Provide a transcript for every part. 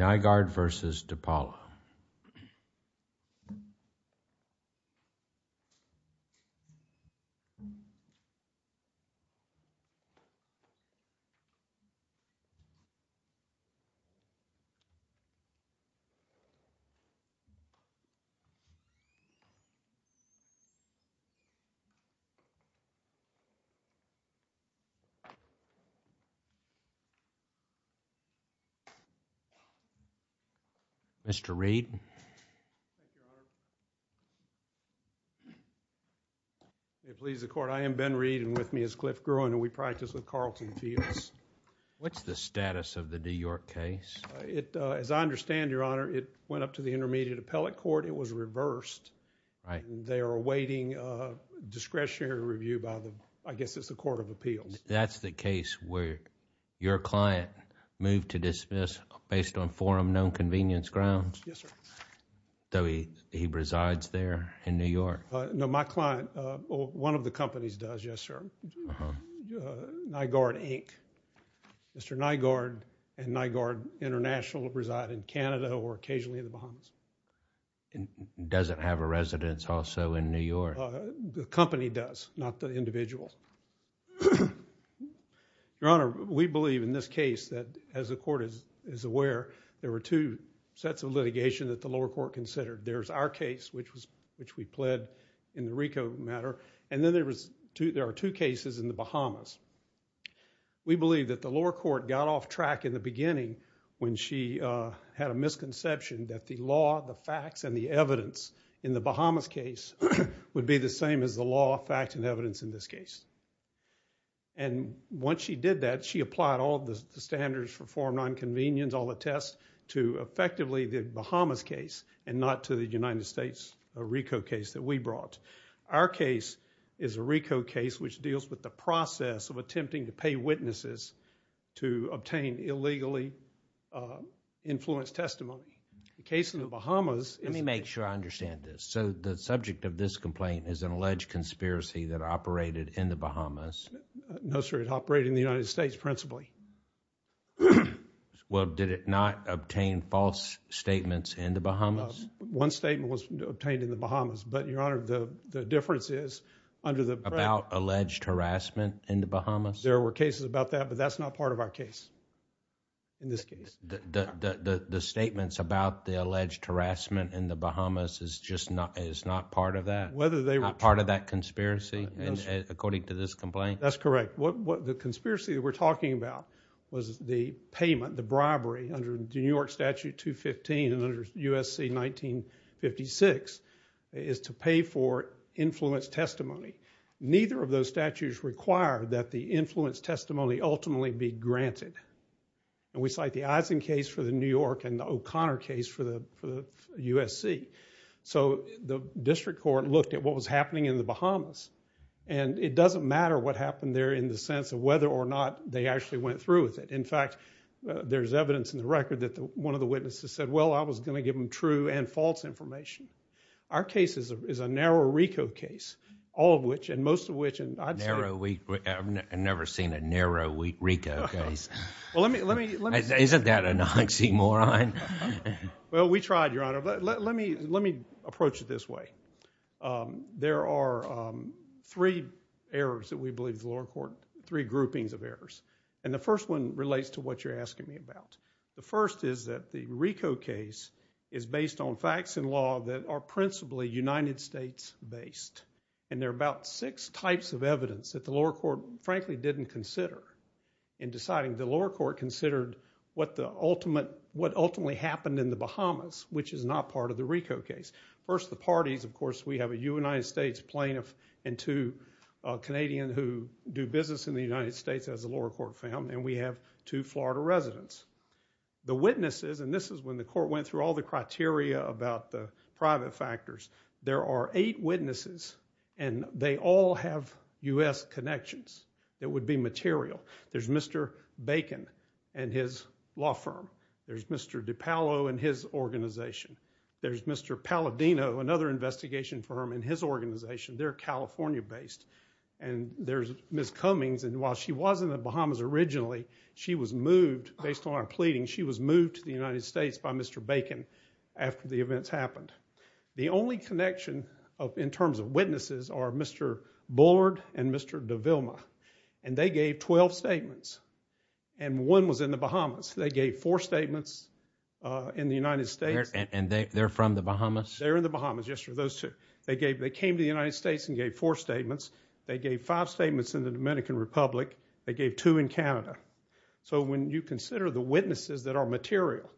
Nygard v. Dipaolo Mr. Reed It please the court I am Ben Reed and with me is Cliff Gruen and we practice with Carlton fields What's the status of the New York case? It as I understand your honor it went up to the intermediate appellate court It was reversed. All right, they are awaiting Discretionary review by the I guess it's the Court of Appeals. That's the case where your client moved to dismiss Based on forum known convenience grounds. Yes, sir Though he he resides there in New York. No my client one of the companies does yes, sir Nygard Inc Mr. Nygard and Nygard International reside in Canada or occasionally in the Bahamas It doesn't have a residence also in New York. The company does not the individual Your Honor we believe in this case that as the court is is aware there were two Sets of litigation that the lower court considered there's our case Which was which we pled in the Rico matter and then there was two there are two cases in the Bahamas we believe that the lower court got off track in the beginning when she Had a misconception that the law the facts and the evidence in the Bahamas case Would be the same as the law fact and evidence in this case and Once she did that she applied all the standards for form nonconvenience all the tests to effectively the Bahamas case And not to the United States a Rico case that we brought Our case is a Rico case which deals with the process of attempting to pay witnesses to obtain illegally Influenced testimony the case in the Bahamas Let me make sure I understand this so the subject of this complaint is an alleged conspiracy that operated in the Bahamas No, sir. It operated in the United States principally Well, did it not obtain false statements in the Bahamas one statement was obtained in the Bahamas But your honor the the difference is under the about alleged harassment in the Bahamas There were cases about that, but that's not part of our case In this case the Statements about the alleged harassment in the Bahamas is just not it's not part of that whether they were part of that conspiracy According to this complaint. That's correct What what the conspiracy that we're talking about was the payment the bribery under the New York Statute 215 and under USC? 1956 is to pay for Influence testimony neither of those statutes require that the influence testimony ultimately be granted and we cite the eyes in case for the New York and the O'Connor case for the USC so the district court looked at what was happening in the Bahamas and It doesn't matter what happened there in the sense of whether or not they actually went through with it In fact, there's evidence in the record that the one of the witnesses said well I was going to give them true and false information Our case is a narrow RICO case all of which and most of which and I've never we Never seen a narrow week Rico case. Well, let me let me isn't that a Nazi moron? Well, we tried your honor. Let me let me approach it this way there are Three errors that we believe the lower court three groupings of errors and the first one relates to what you're asking me about The first is that the RICO case is based on facts in law that are principally United States based and there are about six types of evidence that the lower court frankly didn't consider in Deciding the lower court considered what the ultimate what ultimately happened in the Bahamas Which is not part of the RICO case first the parties. Of course, we have a United States plaintiff and two Canadian who do business in the United States as a lower court found and we have two Florida residents The witnesses and this is when the court went through all the criteria about the private factors There are eight witnesses and they all have u.s. Connections. It would be material There's mr. Bacon and his law firm. There's mr. DiPaolo and his organization There's mr. Palladino another investigation firm in his organization. They're, California based and There's miss Cummings and while she was in the Bahamas originally she was moved based on our pleading She was moved to the United States by mr. Bacon after the events happened the only connection of in terms of witnesses are mr Bullard and mr. De Vilma and they gave 12 statements and One was in the Bahamas. They gave four statements In the United States and they're from the Bahamas. They're in the Bahamas They gave they came to the United States and gave four statements they gave five statements in the Dominican Republic They gave two in Canada So when you consider the witnesses that are material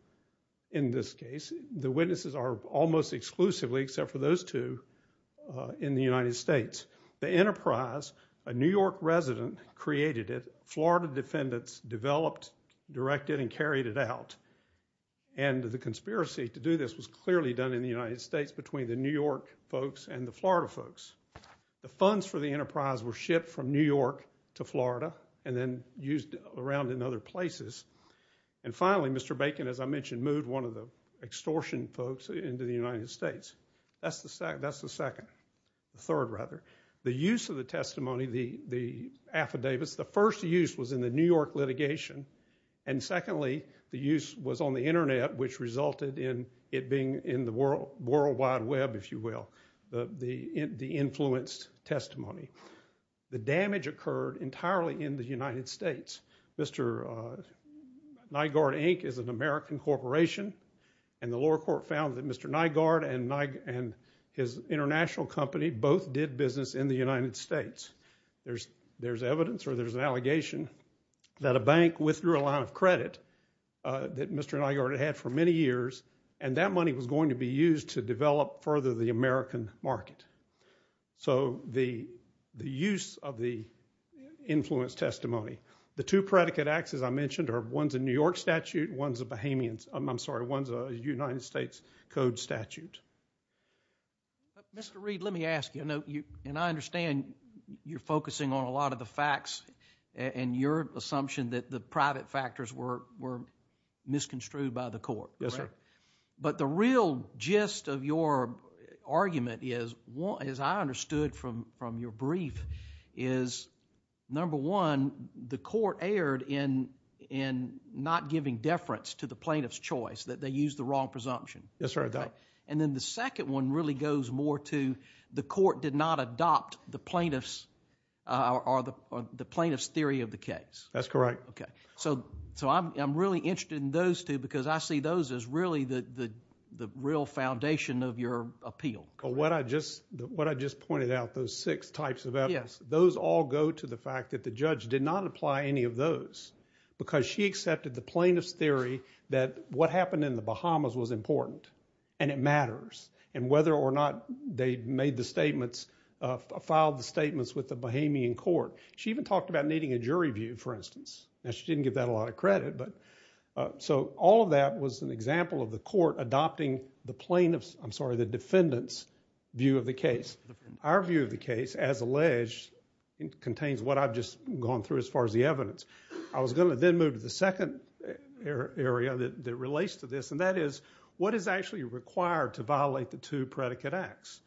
in this case, the witnesses are almost exclusively except for those two In the United States the enterprise a New York resident created it Florida defendants developed directed and carried it out and Conspiracy to do this was clearly done in the United States between the New York folks and the Florida folks the funds for the enterprise were shipped from New York to Florida and then used around in other places and Finally, mr. Bacon as I mentioned moved one of the extortion folks into the United States that's the second that's the second third rather the use of the testimony the the affidavits the first use was in the New York litigation and Secondly, the use was on the Internet which resulted in it being in the world World Wide Web if you will the the influenced testimony The damage occurred entirely in the United States. Mr. Nygaard Inc is an American corporation and the lower court found that mr Nygaard and Nike and his international company both did business in the United States There's there's evidence or there's an allegation that a bank withdrew a line of credit That mr. Nygaard had for many years and that money was going to be used to develop further the American market so the the use of the Influence testimony the two predicate acts as I mentioned are ones in New York statute ones of Bahamians I'm sorry ones a United States Code statute But mr. Reid, let me ask you I know you and I understand you're focusing on a lot of the facts And your assumption that the private factors were were Misconstrued by the court. Yes, sir, but the real gist of your argument is what as I understood from from your brief is number one the court erred in in Not giving deference to the plaintiff's choice that they use the wrong presumption Yes, sir. And then the second one really goes more to the court did not adopt the plaintiff's Or the plaintiff's theory of the case. That's correct okay, so so I'm really interested in those two because I see those as really the Real foundation of your appeal or what I just what I just pointed out those six types of evidence Those all go to the fact that the judge did not apply any of those Because she accepted the plaintiff's theory that what happened in the Bahamas was important and it matters and whether or not They made the statements Filed the statements with the Bahamian court. She even talked about needing a jury view for instance now she didn't give that a lot of credit, but So all of that was an example of the court adopting the plaintiffs. I'm sorry the defendants view of the case Our view of the case as alleged Contains what I've just gone through as far as the evidence I was going to then move to the second Area that relates to this and that is what is actually required to violate the two predicate acts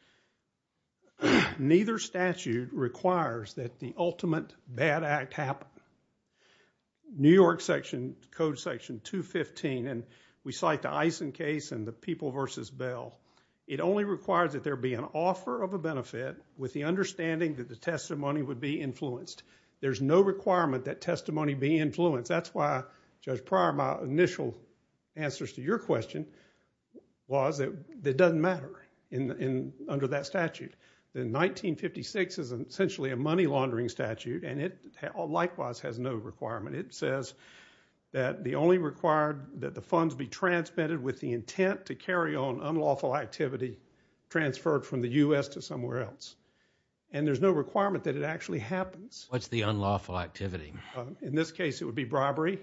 Neither statute requires that the ultimate bad act happen New York section code section 215 and we cite the Eisen case and the people versus bail It only requires that there be an offer of a benefit with the understanding that the testimony would be influenced There's no requirement that testimony be influenced. That's why judge prior my initial answers to your question Was that that doesn't matter in? Under that statute then 1956 is essentially a money-laundering statute and it likewise has no requirement. It says That the only required that the funds be transmitted with the intent to carry on unlawful activity Transferred from the US to somewhere else and there's no requirement that it actually happens. What's the unlawful activity in this case? It would be bribery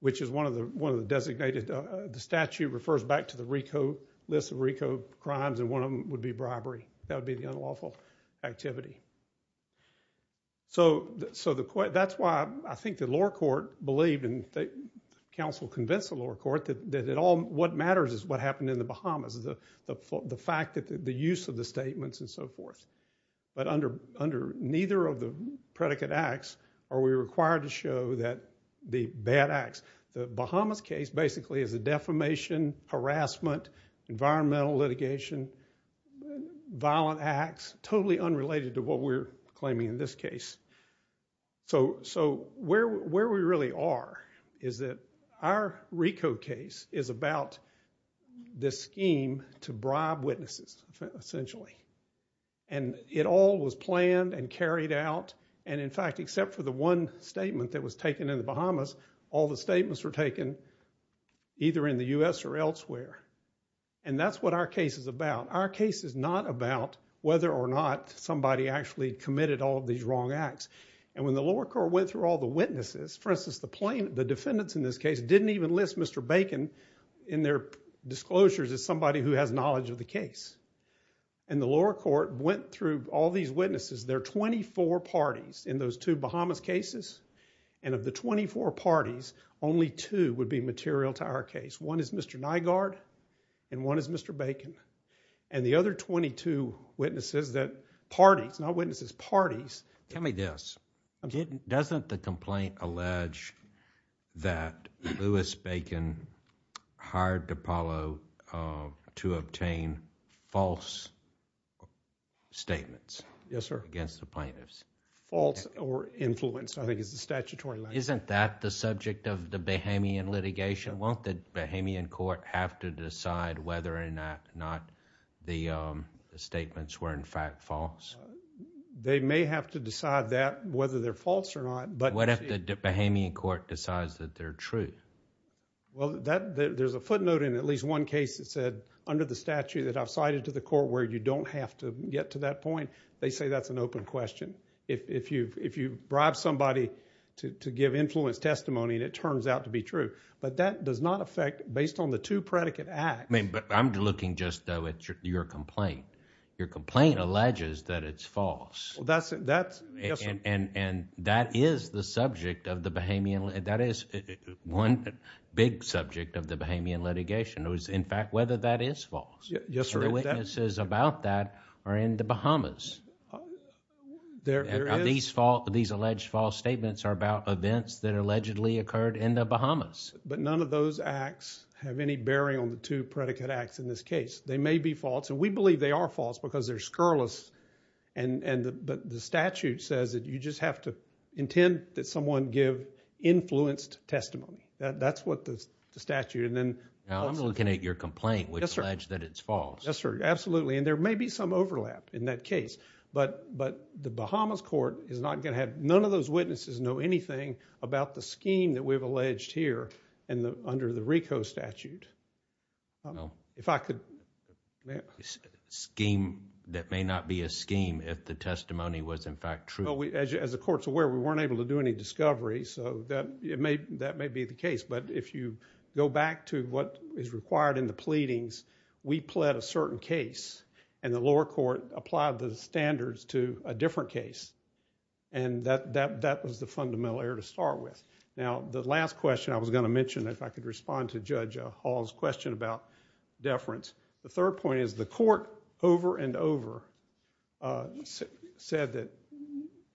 Which is one of the one of the designated The statute refers back to the RICO list of RICO crimes and one of them would be bribery. That would be the unlawful activity So So the court that's why I think the lower court believed and the council convinced the lower court that it all what matters is What happened in the Bahamas is the the fact that the use of the statements and so forth but under under neither of the Predicate acts are we required to show that the bad acts the Bahamas case basically is a defamation harassment environmental litigation Violent acts totally unrelated to what we're claiming in this case So so where we really are is that our RICO case is about this scheme to bribe witnesses essentially and It all was planned and carried out and in fact except for the one Statement that was taken in the Bahamas all the statements were taken Either in the US or elsewhere and That's what our case is about our case is not about whether or not somebody actually Committed all of these wrong acts and when the lower court went through all the witnesses for instance the plaintiff the defendants in this case Didn't even list. Mr. Bacon in their disclosures as somebody who has knowledge of the case and The lower court went through all these witnesses There are 24 parties in those two Bahamas cases and of the 24 parties only two would be material to our case One is mr. Nygaard and one is mr. Bacon and the other 22 witnesses that parties not witnesses parties Tell me this. I'm kidding. Doesn't the complaint allege that Louis Bacon hired Apollo to obtain false Statements. Yes, sir against the plaintiffs false or influenced I think is the statutory isn't that the subject of the Bahamian litigation won't that Bahamian court have to decide whether or not not the Statements were in fact false They may have to decide that whether they're false or not. But what if the Bahamian court decides that they're true? Well that there's a footnote in at least one case Under the statute that I've cited to the court where you don't have to get to that point They say that's an open question If you if you bribe somebody to give influence testimony and it turns out to be true But that does not affect based on the two predicate act I mean, but I'm looking just though it's your complaint your complaint alleges that it's false. That's it That's and and and that is the subject of the Bahamian That is one big subject of the Bahamian litigation. It was in fact whether that is false Yes, sir. The witnesses about that are in the Bahamas There are these fault these alleged false statements are about events that allegedly occurred in the Bahamas But none of those acts have any bearing on the two predicate acts in this case they may be false and we believe they are false because they're scurrilous and But the statute says that you just have to intend that someone give Influenced testimony that that's what the statute and then now I'm looking at your complaint. Yes, sir I just that it's false. Yes, sir Absolutely, and there may be some overlap in that case But but the Bahamas court is not gonna have none of those witnesses know anything About the scheme that we've alleged here and the under the Rico statute if I could Scheme that may not be a scheme if the testimony was in fact true We as you as the courts aware, we weren't able to do any discovery So that it may that may be the case but if you go back to what is required in the pleadings we pled a certain case and the lower court applied the standards to a different case and That that that was the fundamental error to start with now the last question I was going to mention if I could respond to judge Hall's question about Deference the third point is the court over and over Said that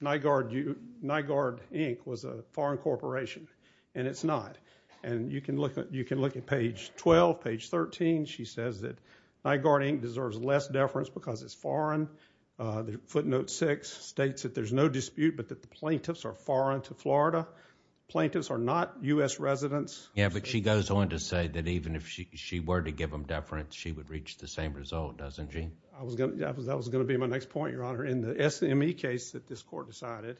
Nygaard you Nygaard Inc was a foreign corporation and it's not and you can look at you can look at page 12 page 13 She says that my guarding deserves less deference because it's foreign The footnote six states that there's no dispute, but that the plaintiffs are foreign to Florida Plaintiffs are not u.s. Residents. Yeah, but she goes on to say that even if she were to give them deference She would reach the same result doesn't gene I was gonna that was that was gonna be my next point your honor in the SME case that this court decided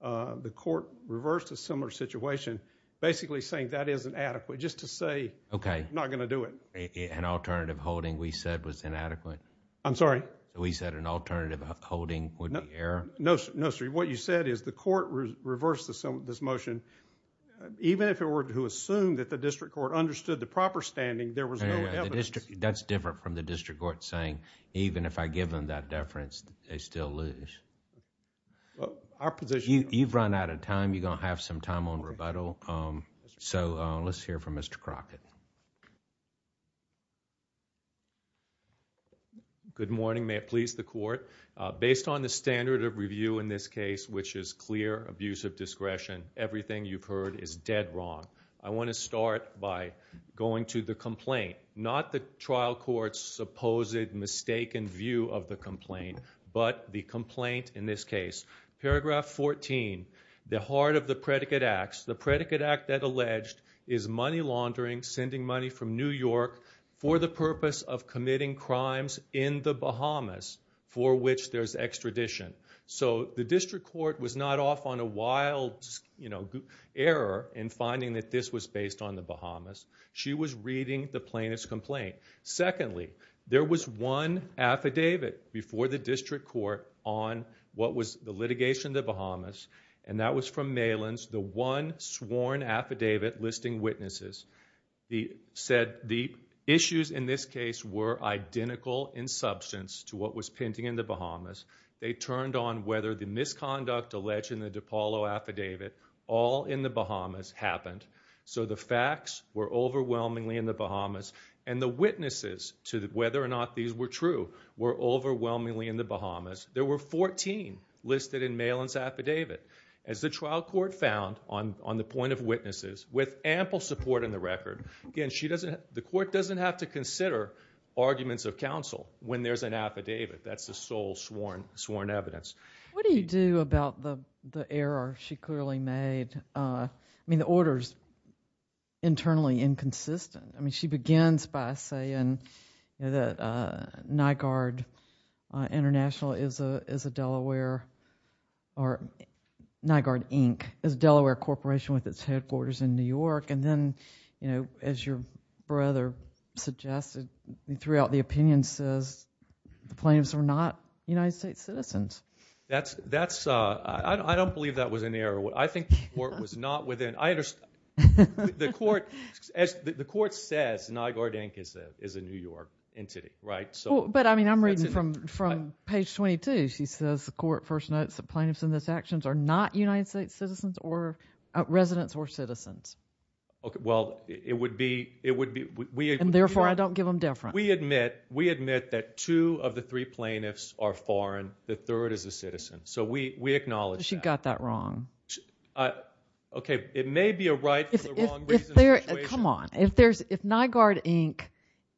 The court reversed a similar situation Basically saying that isn't adequate just to say okay. I'm not gonna do it an alternative holding we said was inadequate I'm sorry. We said an alternative holding would not air no Mystery what you said is the court reversed the some of this motion Even if it were to assume that the district court understood the proper standing there was no That's different from the district court saying even if I give them that deference they still lose Our position you've run out of time. You're gonna have some time on rebuttal. So let's hear from mr. Crockett You Good morning, may it please the court based on the standard of review in this case, which is clear abuse of discretion Everything you've heard is dead wrong I want to start by going to the complaint not the trial courts Supposed mistaken view of the complaint but the complaint in this case 14 the heart of the predicate acts the predicate act that alleged is money laundering sending money from New York For the purpose of committing crimes in the Bahamas for which there's extradition So the district court was not off on a wild You know error in finding that this was based on the Bahamas. She was reading the plaintiff's complaint Secondly, there was one Affidavit before the district court on what was the litigation the Bahamas and that was from Malin's the one sworn affidavit listing witnesses The said the issues in this case were identical in substance to what was painting in the Bahamas They turned on whether the misconduct alleged in the de Paulo affidavit all in the Bahamas happened So the facts were overwhelmingly in the Bahamas and the witnesses to that whether or not these were true We're overwhelmingly in the Bahamas There were 14 Listed in Malin's affidavit as the trial court found on on the point of witnesses with ample support in the record Again, she doesn't the court doesn't have to consider Arguments of counsel when there's an affidavit. That's the sole sworn sworn evidence What do you do about the the error she clearly made? I mean the orders Internally inconsistent. I mean she begins by saying that Nygaard International is a is a Delaware or Nygaard Inc is Delaware Corporation with its headquarters in New York and then, you know as your brother Suggested you threw out the opinion says The plaintiffs are not United States citizens. That's that's I don't believe that was in there I think what was not within I understand The court as the court says Nygaard Inc is that is a New York entity, right? So but I mean I'm reading from from page 22 She says the court first notes that plaintiffs in this actions are not United States citizens or residents or citizens Okay, well, it would be it would be weird and therefore I don't give them different We admit we admit that two of the three plaintiffs are foreign. The third is a citizen. So we we acknowledge she got that wrong Okay, it may be a right Come on if there's if Nygaard Inc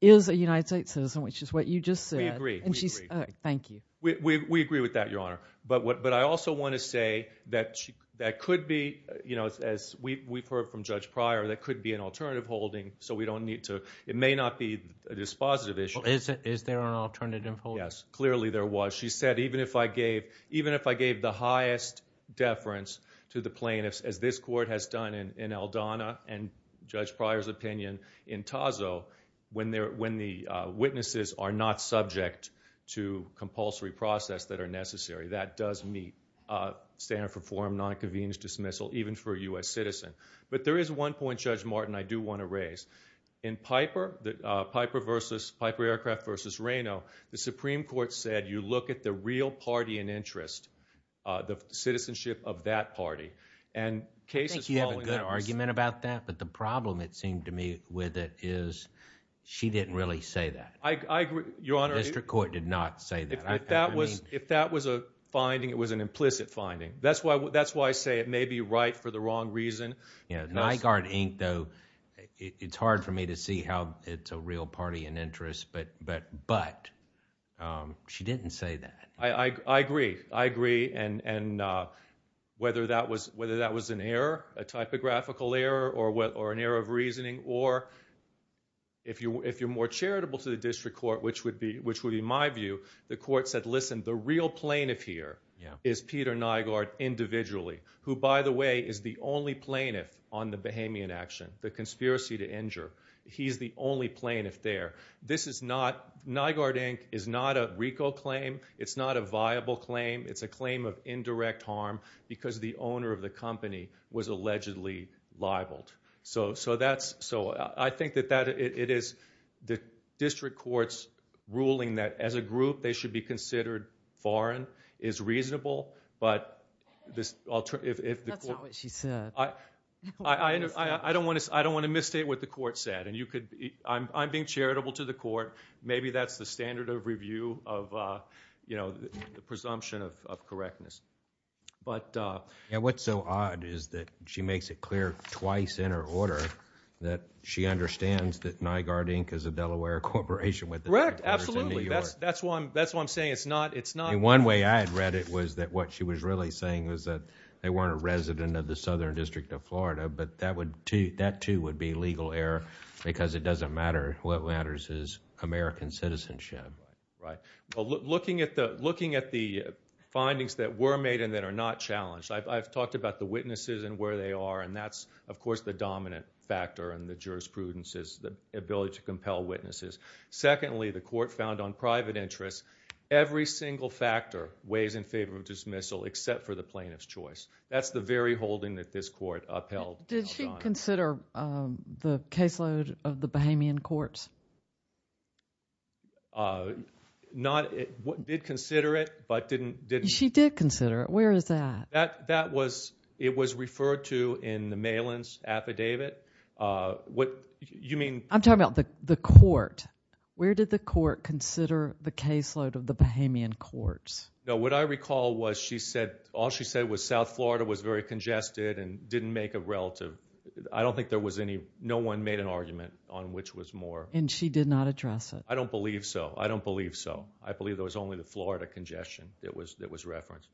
is a United States citizen, which is what you just said and she's thank you We agree with that your honor But what but I also want to say that that could be you know As we've heard from judge prior that could be an alternative holding so we don't need to it may not be a dispositive issue Is it is there an alternative? Yes, clearly there was she said even if I gave even if I gave the highest Deference to the plaintiffs as this court has done in Eldona and judge Pryor's opinion in Tazo When there when the witnesses are not subject to compulsory process that are necessary that does meet Standard for form not a convenience dismissal even for a US citizen, but there is one point judge Martin I do want to raise in Piper that Piper versus Piper aircraft versus Reno The Supreme Court said you look at the real party and interest The citizenship of that party and case you have a good argument about that, but the problem it seemed to me with it is She didn't really say that I agree your honor. Mr Court did not say that if that was if that was a finding it was an implicit finding That's why that's why I say it may be right for the wrong reason. Yeah Nygaard Inc, though it's hard for me to see how it's a real party and interest but but but She didn't say that I I agree I agree and and whether that was whether that was an error a typographical error or what or an error of reasoning or If you if you're more charitable to the district court, which would be which would be my view The court said listen the real plaintiff here Yeah Is Peter Nygaard individually who by the way is the only plaintiff on the Bahamian action the conspiracy to injure? He's the only plaintiff there this is not Nygaard Inc is not a RICO claim. It's not a viable claim It's a claim of indirect harm because the owner of the company was allegedly libeled So so that's so I think that that it is the district courts Ruling that as a group they should be considered foreign is reasonable. But this I I Don't want to I don't want to misstate what the court said and you could I'm being charitable to the court Maybe that's the standard of review of you know, the presumption of correctness But yeah, what's so odd is that she makes it clear twice in her order that She understands that Nygaard Inc is a Delaware corporation with correct. Absolutely. That's that's one. That's what I'm saying It's not it's not one way I'd read it was that what she was really saying was that they weren't a resident of the Southern District of Florida But that would to that too would be legal error because it doesn't matter. What matters is American citizenship, right? looking at the looking at the Findings that were made and that are not challenged I've talked about the witnesses and where they are and that's of course the dominant factor and the jurisprudence is the ability to compel witnesses Secondly the court found on private interests every single factor weighs in favor of dismissal except for the plaintiff's choice That's the very holding that this court upheld. Did she consider? the caseload of the Bahamian courts Not what did consider it but didn't did she did consider it where is that that that was it was referred to in the mail-ins affidavit What you mean I'm talking about the the court Where did the court consider the caseload of the Bahamian courts? No What I recall was she said all she said was South Florida was very congested and didn't make a relative I don't think there was any no one made an argument on which was more and she did not address it I don't believe so. I don't believe so. I believe there was only the Florida congestion. It was that was referenced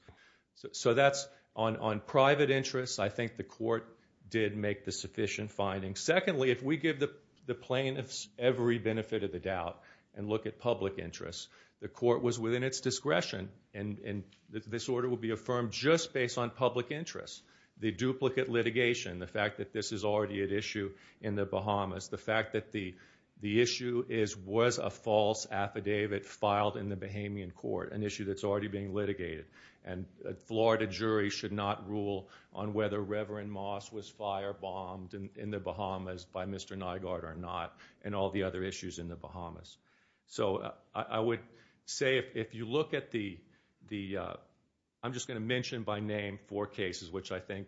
So that's on on private interests I think the court did make the sufficient finding secondly if we give the plaintiffs every benefit of the doubt and look at public interest the court was within its discretion and this order will be affirmed just based on public interest the duplicate litigation the fact that this is already at issue in the Bahamas the fact that the the issue is was a false affidavit Filed in the Bahamian court an issue that's already being litigated and Florida jury should not rule on whether Reverend Moss was firebombed in the Bahamas by mr Nygaard or not and all the other issues in the Bahamas so I would say if you look at the the I'm just going to mention by name four cases, which I think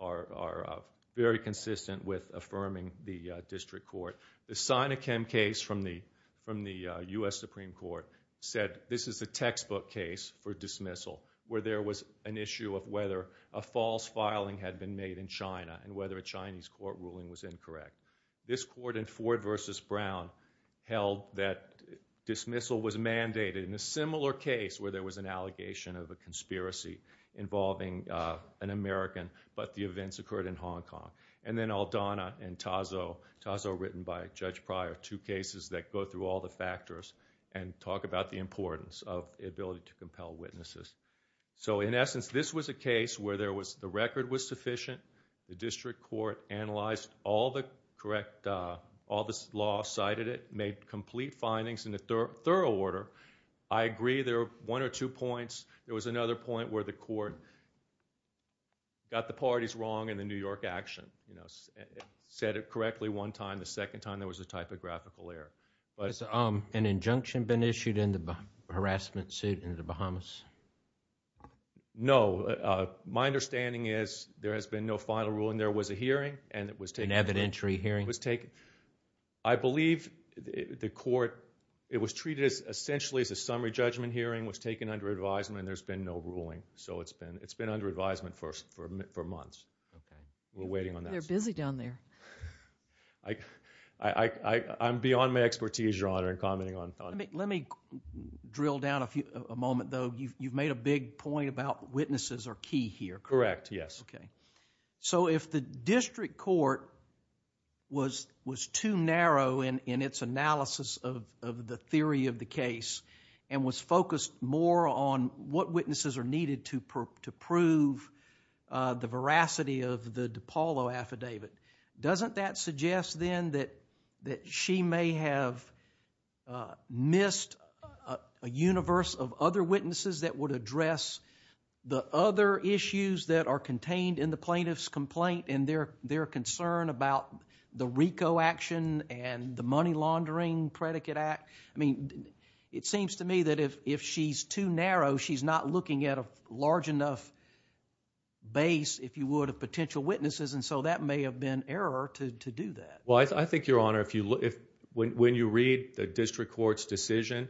are Very consistent with affirming the district court the sign of chem case from the from the US Supreme Court said this is a textbook case for dismissal where there was an issue of whether a False filing had been made in China and whether a Chinese court ruling was incorrect this court in Ford versus Brown held that Dismissal was mandated in a similar case where there was an allegation of a conspiracy Involving an American But the events occurred in Hong Kong and then I'll Donna and Tazo Tazo written by a judge prior two cases that go through all the factors and Talk about the importance of ability to compel witnesses So in essence, this was a case where there was the record was sufficient The district court analyzed all the correct all this law cited it made complete findings in the third order I agree there one or two points. There was another point where the court Got the parties wrong in the New York action, you know Said it correctly one time the second time there was a typographical error But it's an injunction been issued in the harassment suit in the Bahamas No My understanding is there has been no final rule and there was a hearing and it was taken evidentiary hearing was taken. I Is a summary judgment hearing was taken under advisement and there's been no ruling so it's been it's been under advisement first for months We're waiting on they're busy down there. I I'm beyond my expertise your honor and commenting on let me Drill down a few a moment though. You've made a big point about witnesses are key here. Correct? Yes. Okay, so if the district court Was was too narrow in in its analysis of the theory of the case and was focused more on What witnesses are needed to prove to prove? the veracity of the DePaulo affidavit doesn't that suggest then that that she may have missed a universe of other witnesses that would address The other issues that are contained in the plaintiff's complaint and their their concern about The Rico action and the money laundering predicate act. I mean it seems to me that if if she's too narrow She's not looking at a large enough Base if you would have potential witnesses and so that may have been error to do that Well, I think your honor if you look if when you read the district courts decision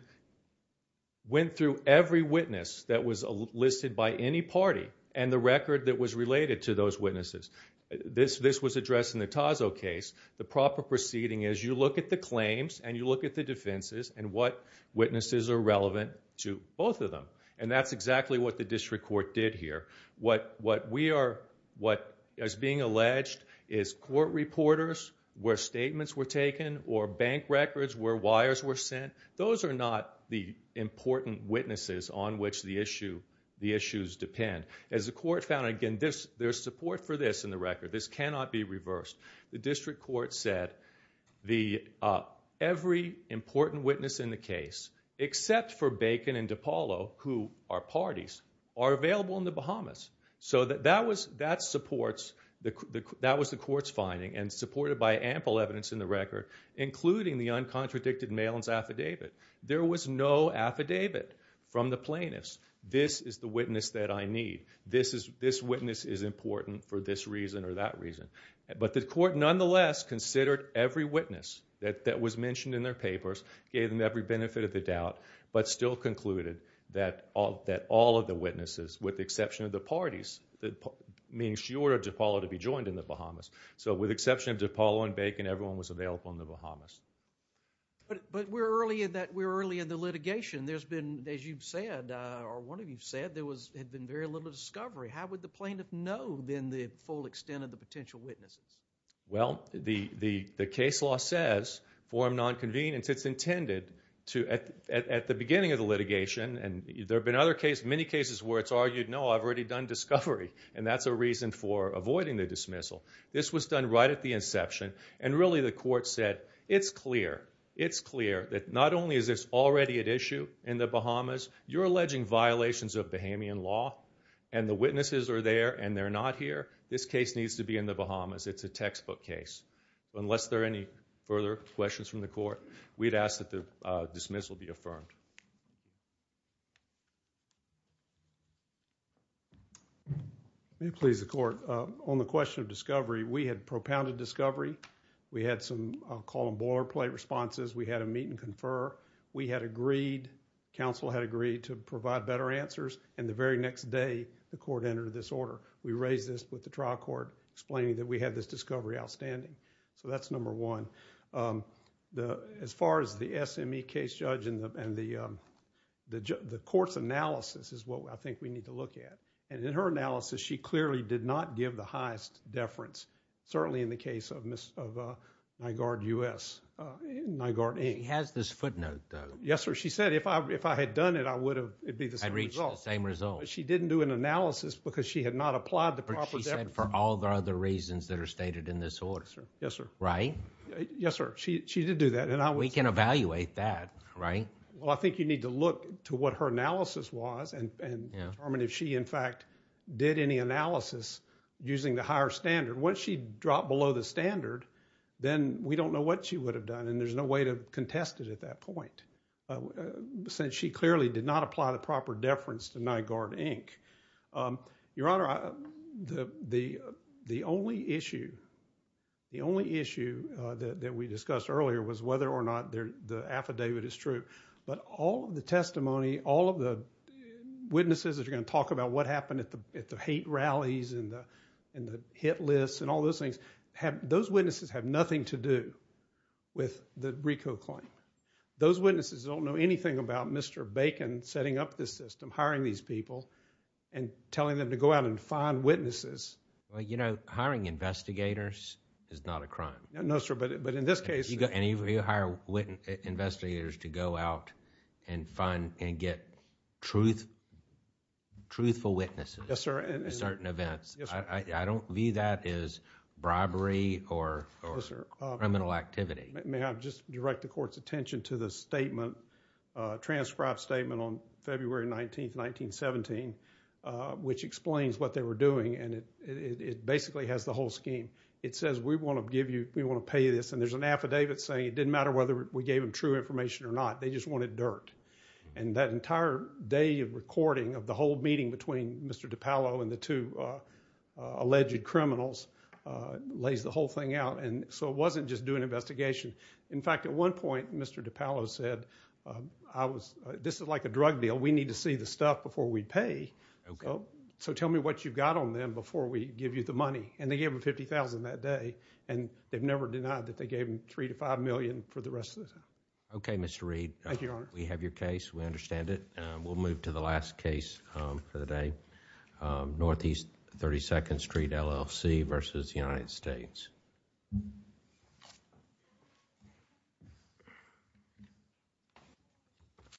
Went through every witness that was a listed by any party and the record that was related to those witnesses This this was addressed in the Tazo case The proper proceeding is you look at the claims and you look at the defenses and what? Witnesses are relevant to both of them and that's exactly what the district court did here What what we are what as being alleged is court reporters? Where statements were taken or bank records where wires were sent those are not the Important witnesses on which the issue the issues depend as the court found again this there's support for this in the record this cannot be reversed the district court said the every important witness in the case Except for bacon and DePaulo who are parties are available in the Bahamas So that that was that supports the that was the courts finding and supported by ample evidence in the record Including the uncontradicted mailings affidavit. There was no affidavit from the plaintiffs This is the witness that I need this is this witness is important for this reason or that reason But the court nonetheless considered every witness that that was mentioned in their papers gave them every benefit of the doubt But still concluded that all that all of the witnesses with the exception of the parties That means you order DePaulo to be joined in the Bahamas So with exception of DePaulo and bacon everyone was available in the Bahamas But but we're early in that we're early in the litigation There's been as you've said or one of you've said there was had been very little discovery How would the plaintiff know then the full extent of the potential witnesses? Well, the the the case law says forum non-convenience It's intended to at the beginning of the litigation and there have been other case many cases where it's argued No, I've already done discovery and that's a reason for avoiding the dismissal This was done right at the inception and really the court said it's clear It's clear that not only is this already at issue in the Bahamas You're alleging violations of Bahamian law and the witnesses are there and they're not here. This case needs to be in the Bahamas It's a textbook case unless there are any further questions from the court. We'd ask that the dismissal be affirmed It please the court on the question of discovery we had propounded discovery We had some call and boilerplate responses. We had a meet-and-confer We had agreed Council had agreed to provide better answers and the very next day the court entered this order We raised this with the trial court explaining that we had this discovery outstanding. So that's number one the as far as the SME case judge in the and the The courts analysis is what I think we need to look at and in her analysis She clearly did not give the highest deference certainly in the case of miss of my guard u.s My guard he has this footnote. Yes, sir She said if I if I had done it, I would have it be the same result same result She didn't do an analysis because she had not applied the proposition for all the other reasons that are stated in this order Yes, sir, right? Yes, sir. She did do that and I we can evaluate that right? Well, I think you need to look to what her analysis was and I mean if she in fact did any analysis Using the higher standard what she dropped below the standard then we don't know what she would have done And there's no way to contest it at that point Since she clearly did not apply the proper deference to night guard Inc your honor the the the only issue the only issue that we discussed earlier was whether or not there the affidavit is true, but all the testimony all of the Witnesses that you're going to talk about what happened at the at the hate rallies and the and the hit lists and all those things Have those witnesses have nothing to do With the Rico claim those witnesses don't know anything about. Mr. Bacon setting up this system hiring these people and Telling them to go out and find witnesses. Well, you know hiring investigators is not a crime No, sir, but but in this case you got any of you hire witness investigators to go out and find and get truth Truthful witnesses. Yes, sir, and certain events. Yes. I don't view that is Criminal activity may I've just direct the court's attention to the statement transcribed statement on February 19th, 1917 Which explains what they were doing and it it basically has the whole scheme It says we want to give you we want to pay you this and there's an affidavit saying it didn't matter whether we gave him True information or not. They just wanted dirt and that entire day of recording of the whole meeting between mr. DiPaolo and the two alleged criminals Lays the whole thing out and so it wasn't just doing investigation. In fact at one point. Mr. DiPaolo said I was This is like a drug deal. We need to see the stuff before we pay so tell me what you've got on them before we give you the money and they gave him 50,000 that day and They've never denied that they gave him three to five million for the rest of it. Okay, mr. Reid. Thank you We have your case. We understand it. We'll move to the last case for the day Northeast 32nd Street LLC versus United States